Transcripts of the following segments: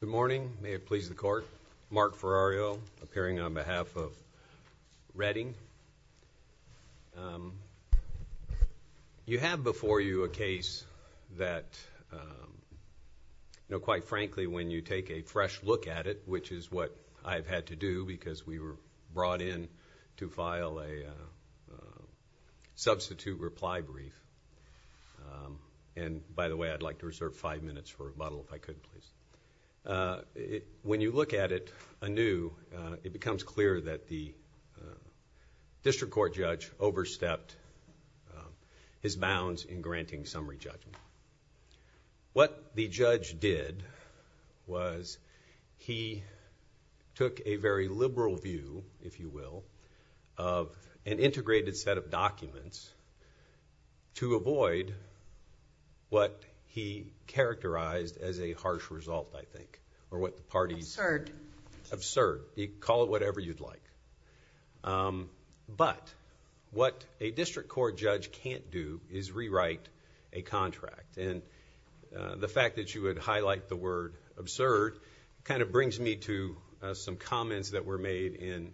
Good morning. May it please the Court. Mark Ferrario, appearing on behalf of Reading. You have before you a case that, quite frankly, when you take a fresh look at it, which is what I've had to do because we were brought in to file a substitute reply brief. And, by the way, I'd like to reserve five minutes for rebuttal, if I could, please. When you look at it anew, it becomes clear that the District Court judge overstepped his bounds in granting summary judgment. What the judge did was he took a very liberal view, if you will, of an integrated set of documents to avoid what he characterized as a harsh result, I think, or what the parties... Absurd. Absurd. Call it whatever you'd like. But what a District Court judge can't do is rewrite a contract. And the fact that you would highlight the word absurd kind of brings me to some comments that were made in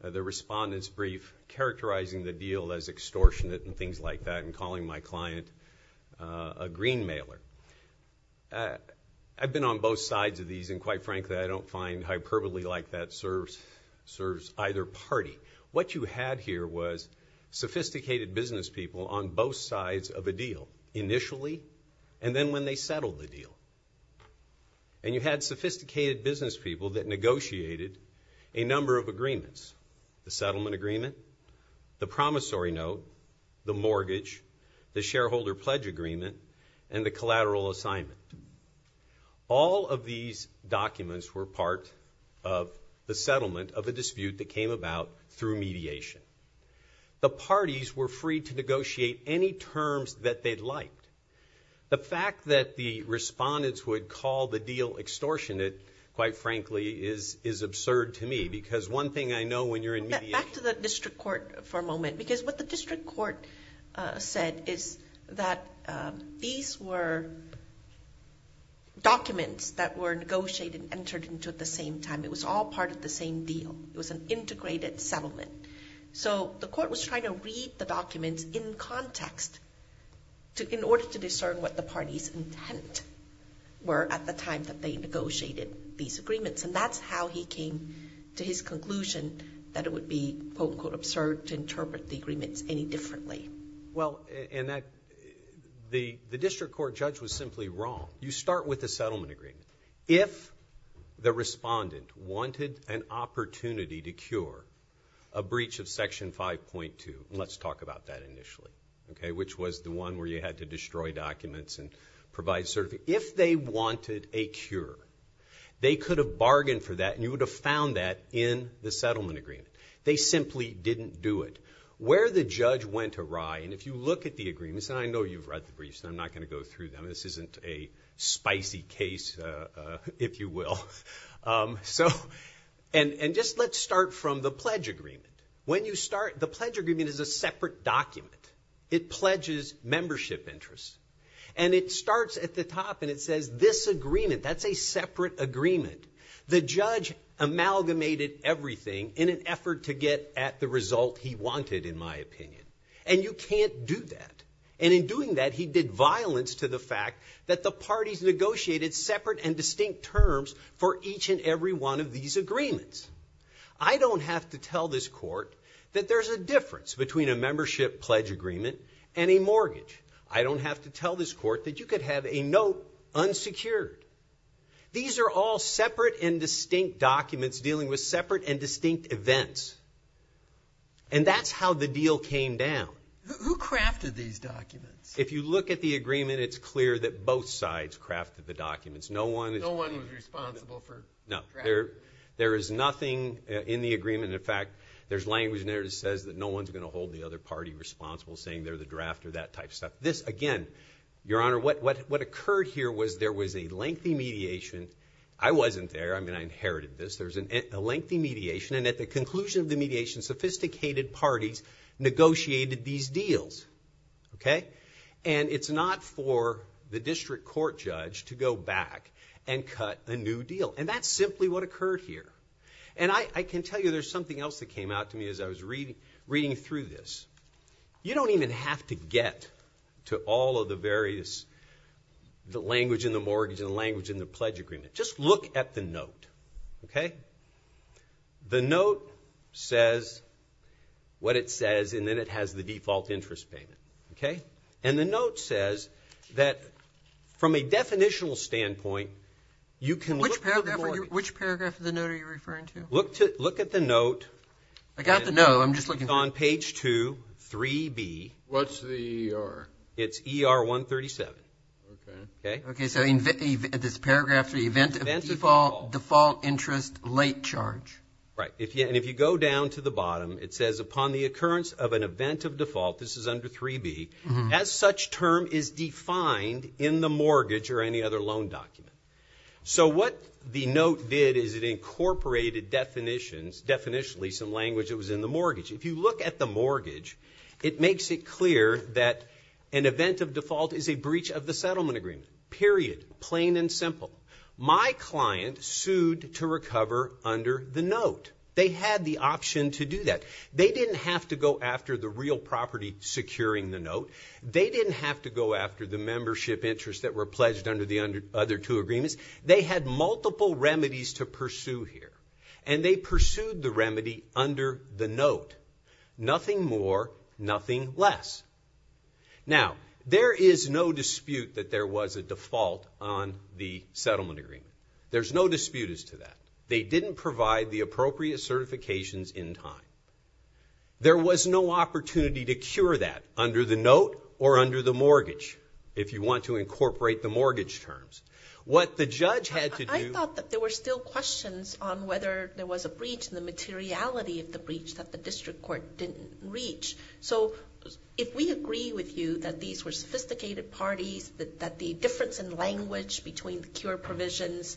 the respondent's brief characterizing the deal as extortionate and things like that and calling my client a green mailer. I've been on both sides of these, and, quite frankly, I don't find hyperbole like that serves either party. What you had here was sophisticated business people on both sides of a deal initially and then when they settled the deal. And you had sophisticated business people that negotiated a number of agreements, the settlement agreement, the promissory note, the mortgage, the shareholder pledge agreement, and the collateral assignment. All of these documents were part of the settlement of a dispute that came about through mediation. The parties were free to negotiate any terms that they'd liked. The fact that the respondents would call the deal extortionate, quite frankly, is absurd to me. Because one thing I know when you're in mediation. Back to the District Court for a moment. Because what the District Court said is that these were documents that were negotiated and entered into at the same time. It was all part of the same deal. It was an integrated settlement. So the court was trying to read the documents in context in order to discern what the parties' intent were at the time that they negotiated these agreements. And that's how he came to his conclusion that it would be, quote, unquote, absurd to interpret the agreements any differently. Well, and the District Court judge was simply wrong. You start with the settlement agreement. If the respondent wanted an opportunity to cure a breach of Section 5.2, and let's talk about that initially, okay, which was the one where you had to destroy documents and provide certification. If they wanted a cure, they could have bargained for that, and you would have found that in the settlement agreement. They simply didn't do it. Where the judge went awry, and if you look at the agreements, and I know you've read the briefs, and I'm not going to go through them. This isn't a spicy case, if you will. So, and just let's start from the pledge agreement. When you start, the pledge agreement is a separate document. It pledges membership interests. And it starts at the top, and it says, this agreement, that's a separate agreement. The judge amalgamated everything in an effort to get at the result he wanted, in my opinion. And you can't do that. And in doing that, he did violence to the fact that the parties negotiated separate and distinct terms for each and every one of these agreements. I don't have to tell this court that there's a difference between a membership pledge agreement and a mortgage. I don't have to tell this court that you could have a note unsecured. These are all separate and distinct documents dealing with separate and distinct events. And that's how the deal came down. Who crafted these documents? If you look at the agreement, it's clear that both sides crafted the documents. No one was responsible for drafting them. No. There is nothing in the agreement. In fact, there's language in there that says that no one's going to hold the other party responsible, saying they're the drafter, that type of stuff. This, again, Your Honor, what occurred here was there was a lengthy mediation. I wasn't there. I mean, I inherited this. There was a lengthy mediation. And at the conclusion of the mediation, sophisticated parties negotiated these deals, okay? And it's not for the district court judge to go back and cut a new deal. And that's simply what occurred here. And I can tell you there's something else that came out to me as I was reading through this. You don't even have to get to all of the various language in the mortgage and language in the pledge agreement. Just look at the note, okay? The note says what it says, and then it has the default interest payment, okay? And the note says that from a definitional standpoint, you can look at the mortgage. Which paragraph of the note are you referring to? Look at the note. I got the note. I'm just looking. It's on page 2, 3B. What's the ER? It's ER 137. Okay. Okay, so this paragraph, the event of default interest late charge. Right, and if you go down to the bottom, it says, upon the occurrence of an event of default, this is under 3B, as such term is defined in the mortgage or any other loan document. So what the note did is it incorporated definitions, definitionally some language that was in the mortgage. If you look at the mortgage, it makes it clear that an event of default is a breach of the settlement agreement. Period. Plain and simple. My client sued to recover under the note. They had the option to do that. They didn't have to go after the real property securing the note. They didn't have to go after the membership interest that were pledged under the other two agreements. They had multiple remedies to pursue here. And they pursued the remedy under the note. Nothing more, nothing less. Now, there is no dispute that there was a default on the settlement agreement. There's no disputes to that. They didn't provide the appropriate certifications in time. There was no opportunity to cure that under the note or under the mortgage, if you want to incorporate the mortgage terms. I thought that there were still questions on whether there was a breach and the materiality of the breach that the district court didn't reach. So if we agree with you that these were sophisticated parties, that the difference in language between the cure provisions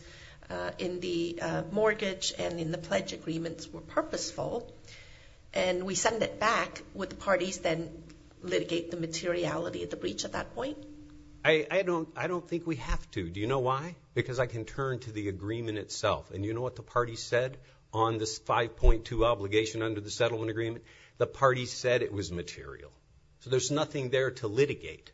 in the mortgage and in the pledge agreements were purposeful and we send it back, would the parties then litigate the materiality of the breach at that point? I don't think we have to. Do you know why? Because I can turn to the agreement itself. And you know what the parties said on this 5.2 obligation under the settlement agreement? The parties said it was material. So there's nothing there to litigate.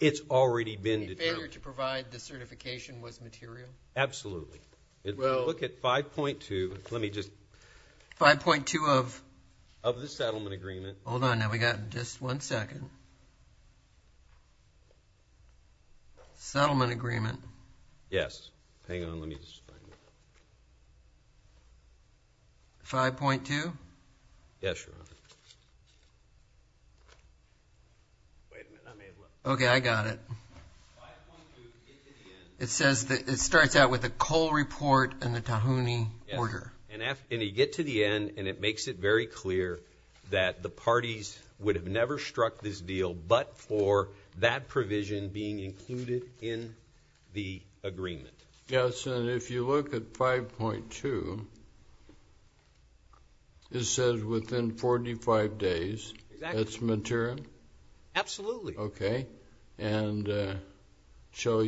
It's already been determined. The failure to provide the certification was material? Absolutely. Look at 5.2. Let me just. 5.2 of? Of the settlement agreement. Hold on. Now, we've got just one second. Settlement agreement. Yes. Hang on. Let me just find it. 5.2? Yes, Your Honor. Wait a minute. I may have left. Okay. I got it. 5.2, get to the end. It says that it starts out with a Cole report and a Tahuni order. Yes. And you get to the end, and it makes it very clear that the parties would have never struck this deal, but for that provision being included in the agreement. Yes. And if you look at 5.2, it says within 45 days it's material? Absolutely. Okay. And B, shall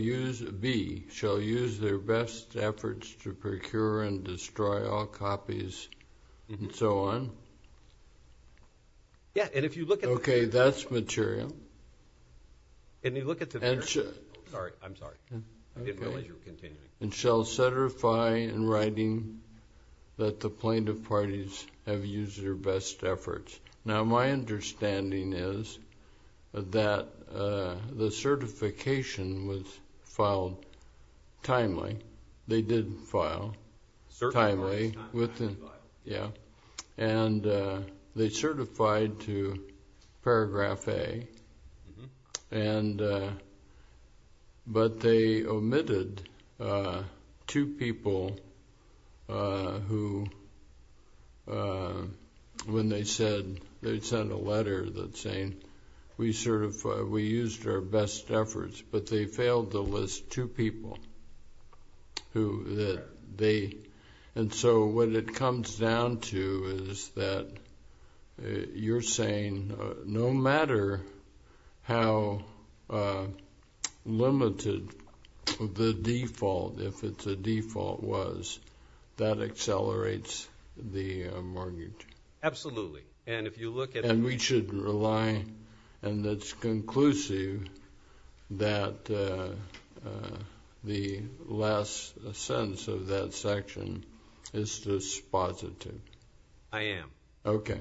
use their best efforts to procure and destroy all copies and so on? Yes, and if you look at. Okay, that's material. Sorry, I'm sorry. I didn't realize you were continuing. And shall certify in writing that the plaintiff parties have used their best efforts. Now, my understanding is that the certification was filed timely. They did file timely. Certified. Yeah. And they certified to Paragraph A. But they omitted two people who, when they said, they sent a letter saying, we used our best efforts, but they failed to list two people. And so what it comes down to is that you're saying no matter how limited the default, if it's a default, was, that accelerates the mortgage? Absolutely. And if you look at. And we should rely, and it's conclusive, that the last sentence of that section is dispositive. I am. Okay.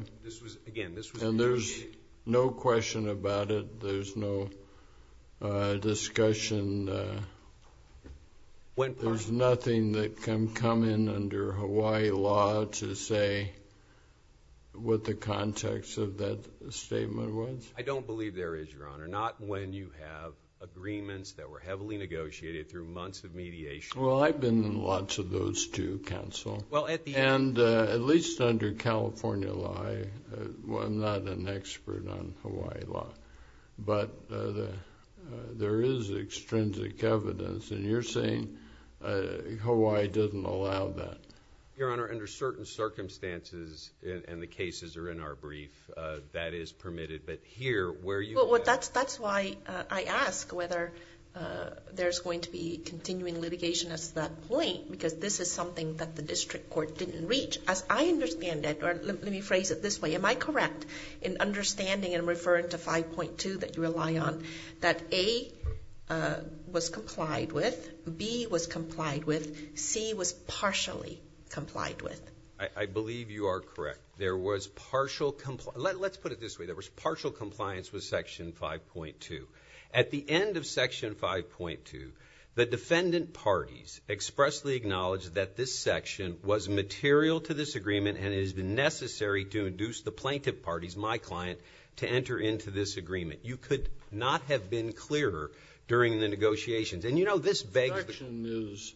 And there's no question about it. There's no discussion. There's nothing that can come in under Hawaii law to say what the context of that statement was? I don't believe there is, Your Honor. Not when you have agreements that were heavily negotiated through months of mediation. Well, I've been in lots of those too, counsel. And at least under California law, I'm not an expert on Hawaii law. But there is extrinsic evidence, and you're saying Hawaii didn't allow that? Your Honor, under certain circumstances, and the cases are in our brief, that is permitted. But here, where you have. Well, that's why I ask whether there's going to be continuing litigation at that point, because this is something that the district court didn't reach. As I understand it, or let me phrase it this way. Am I correct in understanding and referring to 5.2 that you rely on, that A was complied with, B was complied with, C was partially complied with? I believe you are correct. There was partial compliance. Let's put it this way. There was partial compliance with Section 5.2. At the end of Section 5.2, the defendant parties expressly acknowledged that this section was material to this agreement and it has been necessary to induce the plaintiff parties, my client, to enter into this agreement. You could not have been clearer during the negotiations. And, you know, this begs the question.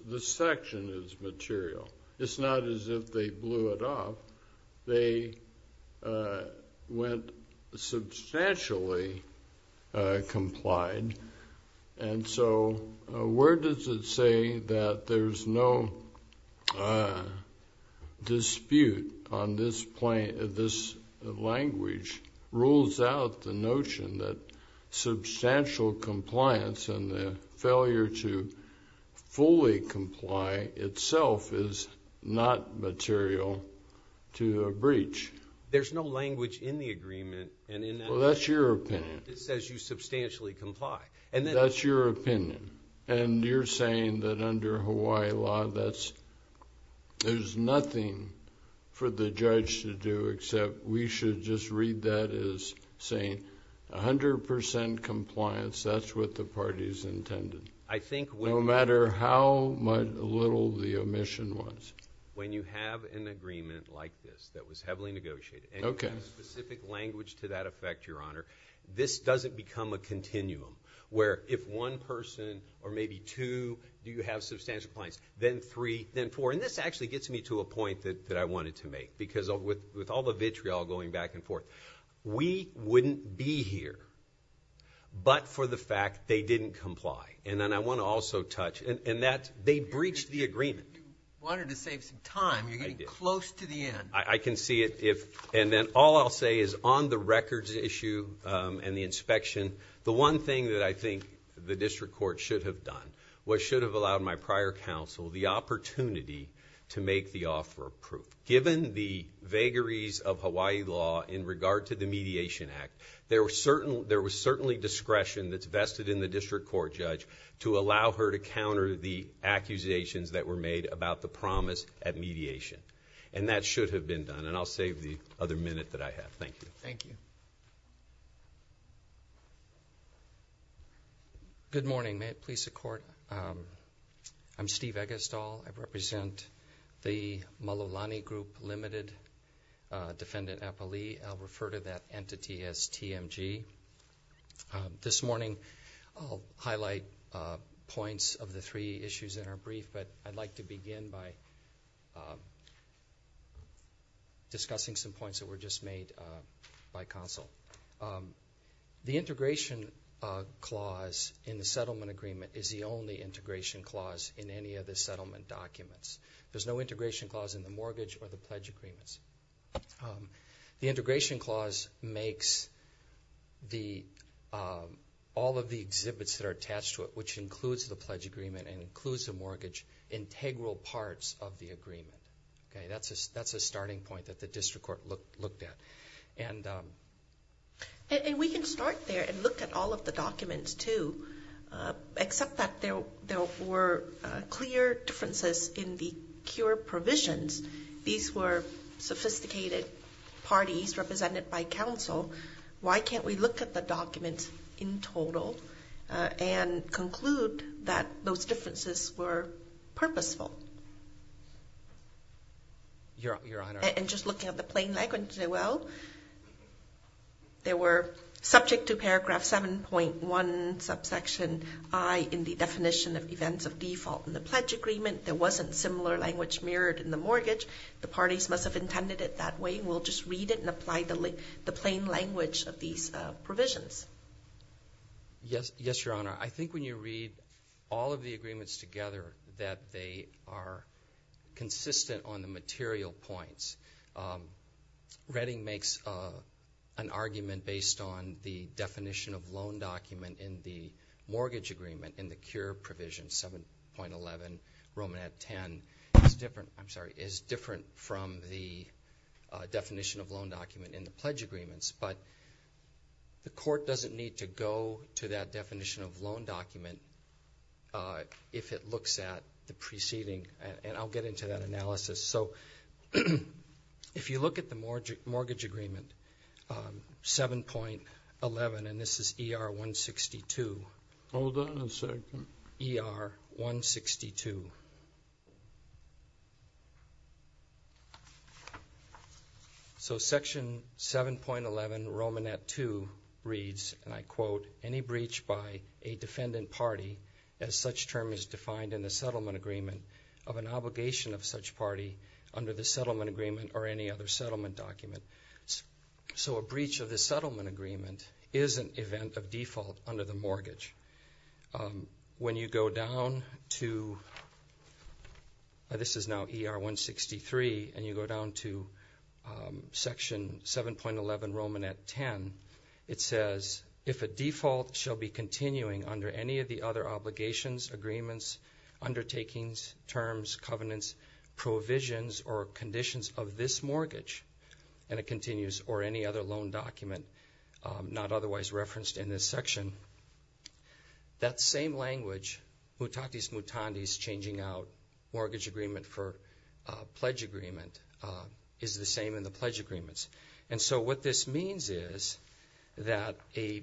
The section is material. It's not as if they blew it up. They went substantially complied. And so where does it say that there's no dispute on this language rules out the notion that substantial compliance and the failure to fully comply itself is not material to a breach? There's no language in the agreement. Well, that's your opinion. It just says you substantially comply. That's your opinion. And you're saying that under Hawaii law there's nothing for the judge to do except we should just read that as saying 100% compliance, that's what the parties intended. No matter how little the omission was. When you have an agreement like this that was heavily negotiated and you have specific language to that effect, Your Honor, this doesn't become a continuum where if one person or maybe two do have substantial compliance, then three, then four. And this actually gets me to a point that I wanted to make because with all the vitriol going back and forth, we wouldn't be here but for the fact they didn't comply. And then I want to also touch, and that they breached the agreement. You wanted to save some time. You're getting close to the end. I can see it. And then all I'll say is on the records issue and the inspection, the one thing that I think the district court should have done was should have allowed my prior counsel the opportunity to make the offer approved. Given the vagaries of Hawaii law in regard to the Mediation Act, there was certainly discretion that's vested in the district court judge to allow her to counter the accusations that were made about the promise at mediation. And that should have been done. And I'll save the other minute that I have. Thank you. Thank you. Good morning. May it please the Court. I'm Steve Eggestall. I represent the Malulani Group Limited Defendant Appalee. I'll refer to that entity as TMG. This morning I'll highlight points of the three issues in our brief, but I'd like to begin by discussing some points that were just made by counsel. The integration clause in the settlement agreement is the only integration clause in any of the settlement documents. There's no integration clause in the mortgage or the pledge agreements. The integration clause makes all of the exhibits that are attached to it, which includes the pledge agreement and includes the mortgage, integral parts of the agreement. That's a starting point that the district court looked at. And we can start there and look at all of the documents too, except that there were clear differences in the cure provisions. These were sophisticated parties represented by counsel. Why can't we look at the documents in total and conclude that those differences were purposeful? Your Honor. And just looking at the plain language as well, they were subject to paragraph 7.1 subsection I in the definition of events of default in the pledge agreement. There wasn't similar language mirrored in the mortgage. The parties must have intended it that way. And we'll just read it and apply the plain language of these provisions. Yes, Your Honor. I think when you read all of the agreements together that they are consistent on the material points. Redding makes an argument based on the definition of loan document in the mortgage agreement 7.11 Romanette 10 is different from the definition of loan document in the pledge agreements. But the court doesn't need to go to that definition of loan document if it looks at the preceding. And I'll get into that analysis. So if you look at the mortgage agreement 7.11, and this is ER 162. Hold on a second. ER 162. So section 7.11 Romanette 2 reads, and I quote, any breach by a defendant party as such term is defined in the settlement agreement of an obligation of such party under the settlement agreement or any other settlement document. So a breach of the settlement agreement is an event of default under the mortgage. When you go down to, this is now ER 163, and you go down to section 7.11 Romanette 10, it says if a default shall be continuing under any of the other obligations, agreements, undertakings, terms, covenants, provisions, or conditions of this mortgage, and it continues, or any other loan document not otherwise referenced in this section, that same language, mutatis mutandis, changing out mortgage agreement for pledge agreement, is the same in the pledge agreements. And so what this means is that a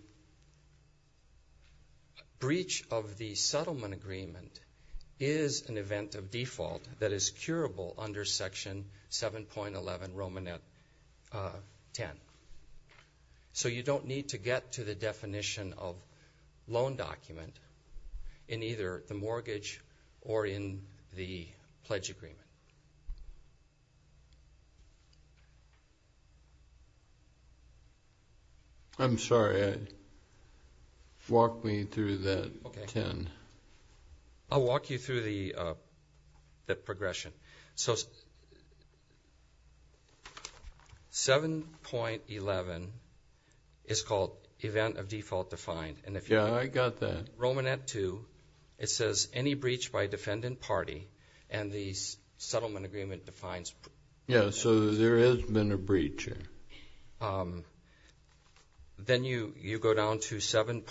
breach of the settlement agreement is an event of default that is curable under section 7.11 Romanette 10. So you don't need to get to the definition of loan document in either the mortgage or in the pledge agreement. I'm sorry. Walk me through that 10. I'll walk you through the progression. So 7.11 is called event of default defined. Yeah, I got that. Romanette 2, it says any breach by defendant party, and the settlement agreement defines. Yeah, so there has been a breach here. Then you go down to 7.11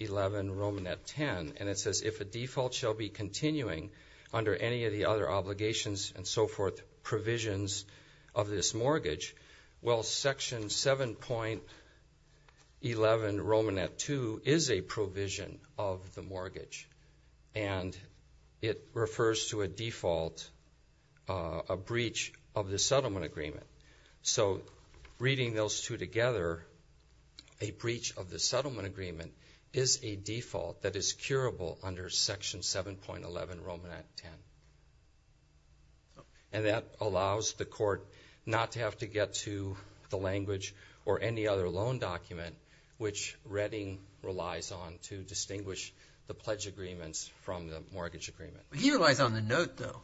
Romanette 10, and it says if a default shall be continuing under any of the other obligations and so forth provisions of this mortgage, well, section 7.11 Romanette 2 is a provision of the mortgage, and it refers to a default, a breach of the settlement agreement. So reading those two together, a breach of the settlement agreement is a default that is curable under section 7.11 Romanette 10, and that allows the court not to have to get to the language or any other loan document which Redding relies on to distinguish the pledge agreements from the mortgage agreement. He relies on the note, though.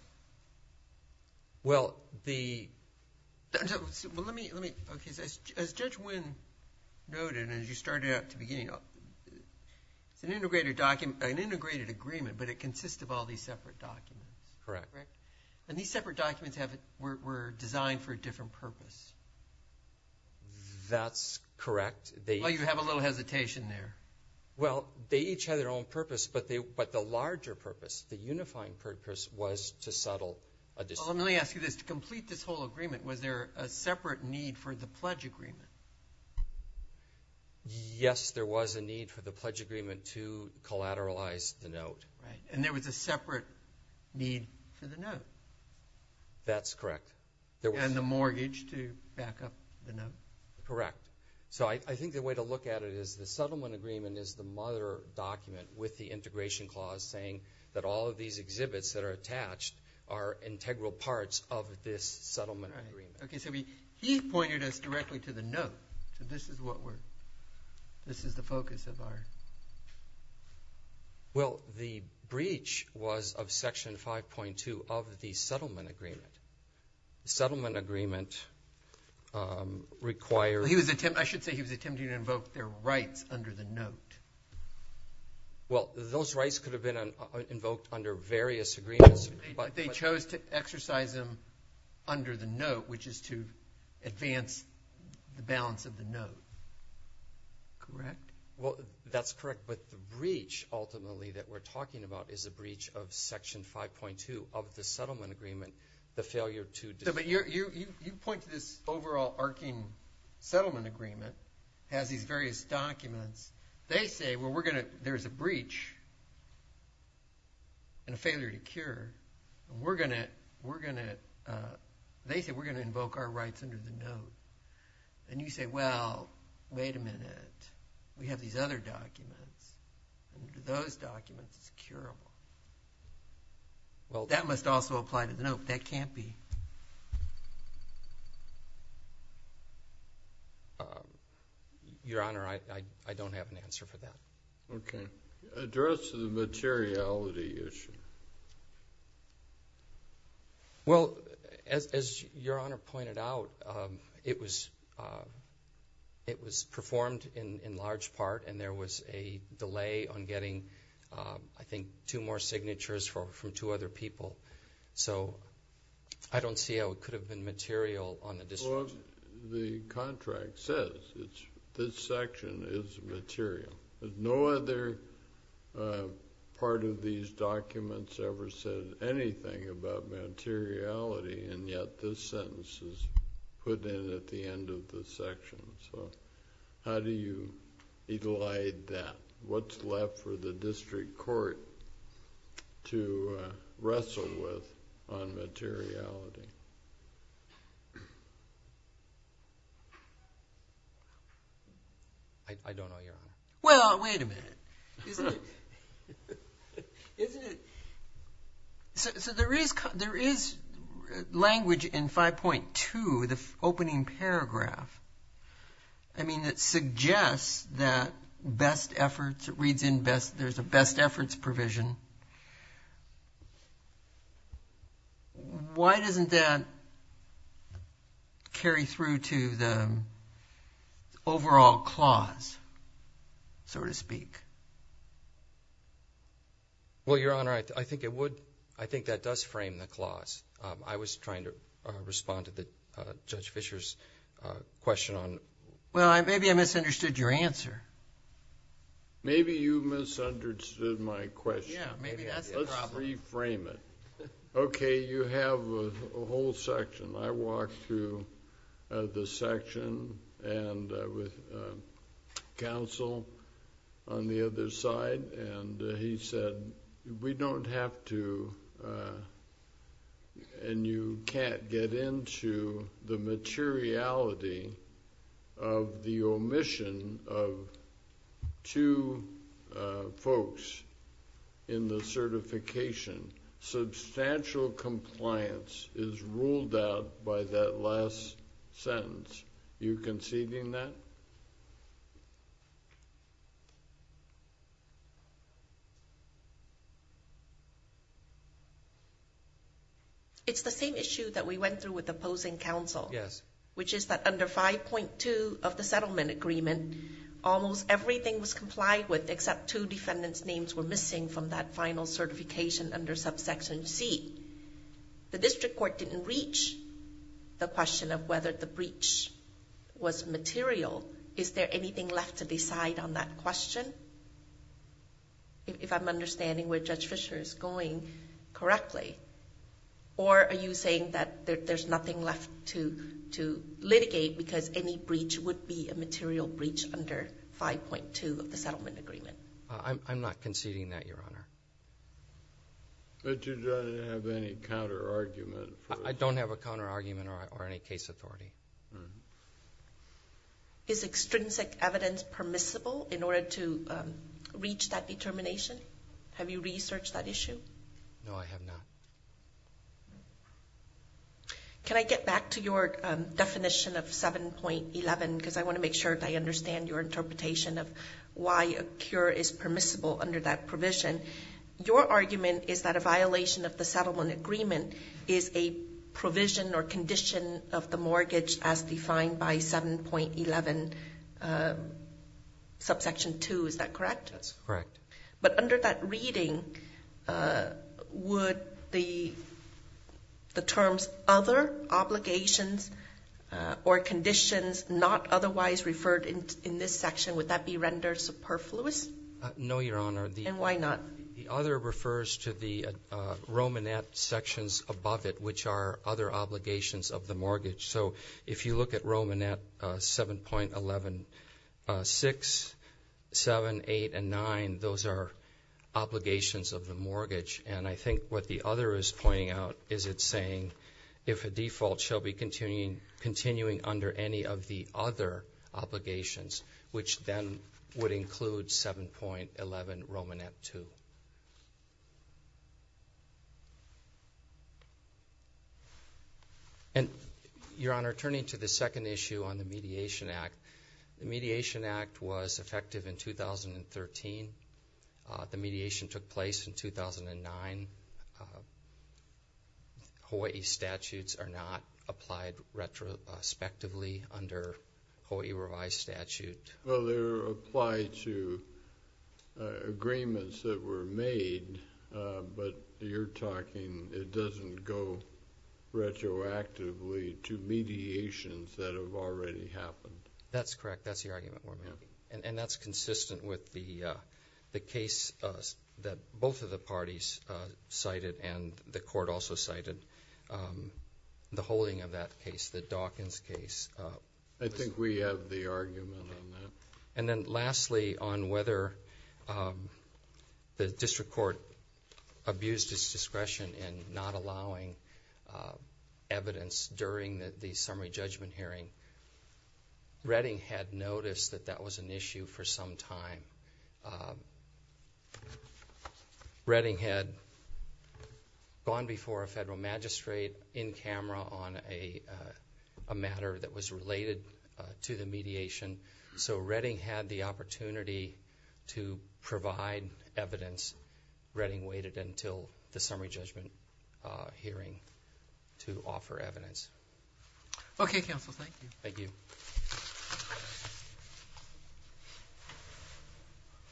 Well, the – well, let me – as Judge Wynn noted and as you started out at the beginning, it's an integrated agreement, but it consists of all these separate documents. Correct. And these separate documents were designed for a different purpose. That's correct. Well, you have a little hesitation there. Well, they each have their own purpose, but the larger purpose, the unifying purpose, was to settle a dispute. Well, let me ask you this. To complete this whole agreement, was there a separate need for the pledge agreement? Yes, there was a need for the pledge agreement to collateralize the note. Right. And there was a separate need for the note. That's correct. And the mortgage to back up the note. Correct. So I think the way to look at it is the settlement agreement is the mother document with the integration clause saying that all of these exhibits that are attached are integral parts of this settlement agreement. Okay, so he pointed us directly to the note. So this is what we're – this is the focus of our – Well, the breach was of Section 5.2 of the settlement agreement. The settlement agreement required – I should say he was attempting to invoke their rights under the note. Well, those rights could have been invoked under various agreements. But they chose to exercise them under the note, which is to advance the balance of the note. Correct? Well, that's correct. But the breach ultimately that we're talking about is a breach of Section 5.2 of the settlement agreement, the failure to – You point to this overall arcing settlement agreement. It has these various documents. They say, well, we're going to – there's a breach and a failure to cure. We're going to – they say we're going to invoke our rights under the note. And you say, well, wait a minute. We have these other documents. Under those documents, it's curable. That must also apply to the note, but that can't be. Your Honor, I don't have an answer for that. Okay. Address the materiality issue. Well, as Your Honor pointed out, it was performed in large part, and there was a delay on getting, I think, two more signatures from two other people. So I don't see how it could have been material on the district. Well, the contract says this section is material. No other part of these documents ever said anything about materiality, and yet this sentence is put in at the end of the section. So how do you elide that? What's left for the district court to wrestle with on materiality? I don't know, Your Honor. Well, wait a minute. There is language in 5.2, the opening paragraph, I mean, that suggests that best efforts, it reads in best, there's a best efforts provision. Why doesn't that carry through to the overall clause, so to speak? Well, Your Honor, I think it would. I think that does frame the clause. I was trying to respond to Judge Fischer's question. Well, maybe I misunderstood your answer. Maybe you misunderstood my question. Yeah, maybe that's the problem. Let's reframe it. Okay, you have a whole section. I walked through the section with counsel on the other side, and he said we don't have to and you can't get into the materiality of the omission of two folks in the certification. Substantial compliance is ruled out by that last sentence. Are you conceding that? It's the same issue that we went through with opposing counsel, which is that under 5.2 of the settlement agreement, almost everything was complied with except two defendants' names were missing from that final certification under subsection C. The district court didn't reach the question of whether the breach was material. Is there anything left to decide on that question, if I'm understanding where Judge Fischer is going correctly? Or are you saying that there's nothing left to litigate because any breach would be a material breach under 5.2 of the settlement agreement? I'm not conceding that, Your Honor. But you don't have any counterargument? I don't have a counterargument or any case authority. Is extrinsic evidence permissible in order to reach that determination? Have you researched that issue? No, I have not. Can I get back to your definition of 7.11, because I want to make sure that I understand your interpretation of why a Your argument is that a violation of the settlement agreement is a provision or condition of the mortgage as defined by 7.11 subsection 2. Is that correct? That's correct. But under that reading, would the terms other obligations or conditions not otherwise referred in this section, would that be rendered superfluous? No, Your Honor. And why not? The other refers to the Romanette sections above it, which are other obligations of the mortgage. So if you look at Romanette 7.11, 6, 7, 8, and 9, those are obligations of the mortgage. And I think what the other is pointing out is it's saying if a default shall be continuing under any of the other obligations, which then would include 7.11 Romanette 2. And Your Honor, turning to the second issue on the Mediation Act, the Mediation Act was effective in 2013. The mediation took place in 2009. Hawaii statutes are not applied retrospectively under Hawaii revised statute. Well, they're applied to agreements that were made. But you're talking, it doesn't go retroactively to mediations that have already happened. That's correct. That's the argument we're making. And that's consistent with the, the case that both of the parties cited and the court also cited the holding of that case, the Dawkins case. I think we have the argument on that. And then lastly, on whether the district court abused its discretion in not allowing evidence during the summary judgment hearing, Redding had noticed that that was an issue for some time. Redding had gone before a federal magistrate in camera on a matter that was related to the mediation. So Redding had the opportunity to provide evidence. Redding waited until the summary judgment hearing to offer evidence. Okay, counsel. Thank you. Thank you.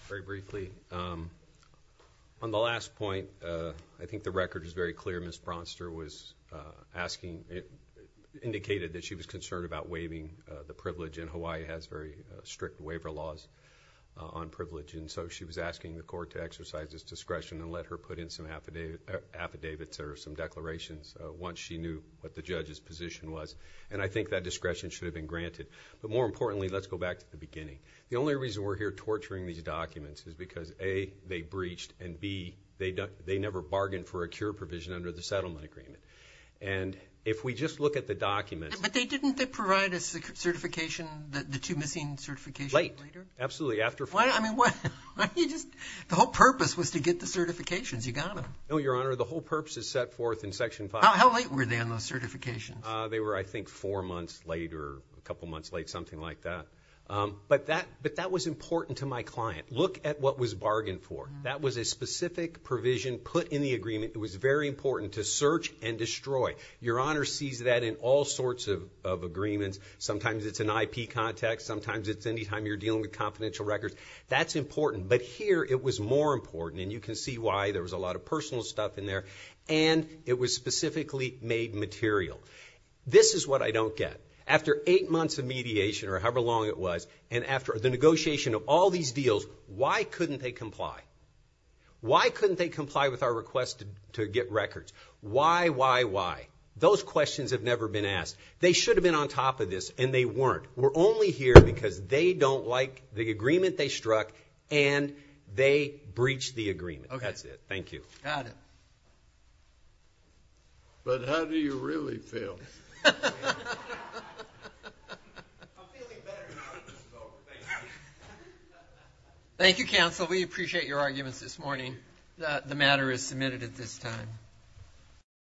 Very briefly. On the last point, I think the record is very clear. Ms. Bronster was asking, it indicated that she was concerned about waiving the privilege and Hawaii has very strict waiver laws on privilege. And so she was asking the court to exercise this discretion and let her put in some affidavits or some declarations once she knew what the judge's position was. And I think that discretion should have been granted, but more importantly, let's go back to the beginning. The only reason we're here torturing these documents is because a, they breached and B, they don't, they never bargained for a cure provision under the settlement agreement. And if we just look at the documents, but they didn't, they provide a certification that the two missing certification later. Absolutely. After I mean, what you just, the whole purpose was to get the certifications. You got them. No, your honor. The whole purpose is set forth in section five. How late were they on those certifications? They were, I think four months later, a couple months late, something like that. But that, but that was important to my client. Look at what was bargained for. That was a specific provision put in the agreement. It was very important to search and destroy. Your honor sees that in all sorts of, of agreements. Sometimes it's an IP context. Sometimes it's anytime you're dealing with confidential records, that's important, but here it was more important. And you can see why there was a lot of personal stuff in there and it was specifically made material. This is what I don't get after eight months of mediation or however long it was. And after the negotiation of all these deals, why couldn't they comply? Why couldn't they comply with our request to get records? Why, why, why? Those questions have never been asked. They should have been on top of this and they weren't. We're only here because they don't like the agreement they struck and they breached the agreement. That's it. Thank you. Got it. But how do you really feel? I'm feeling better now that this is over. Thank you. Thank you, counsel. We appreciate your arguments this morning. The matter is submitted at this time.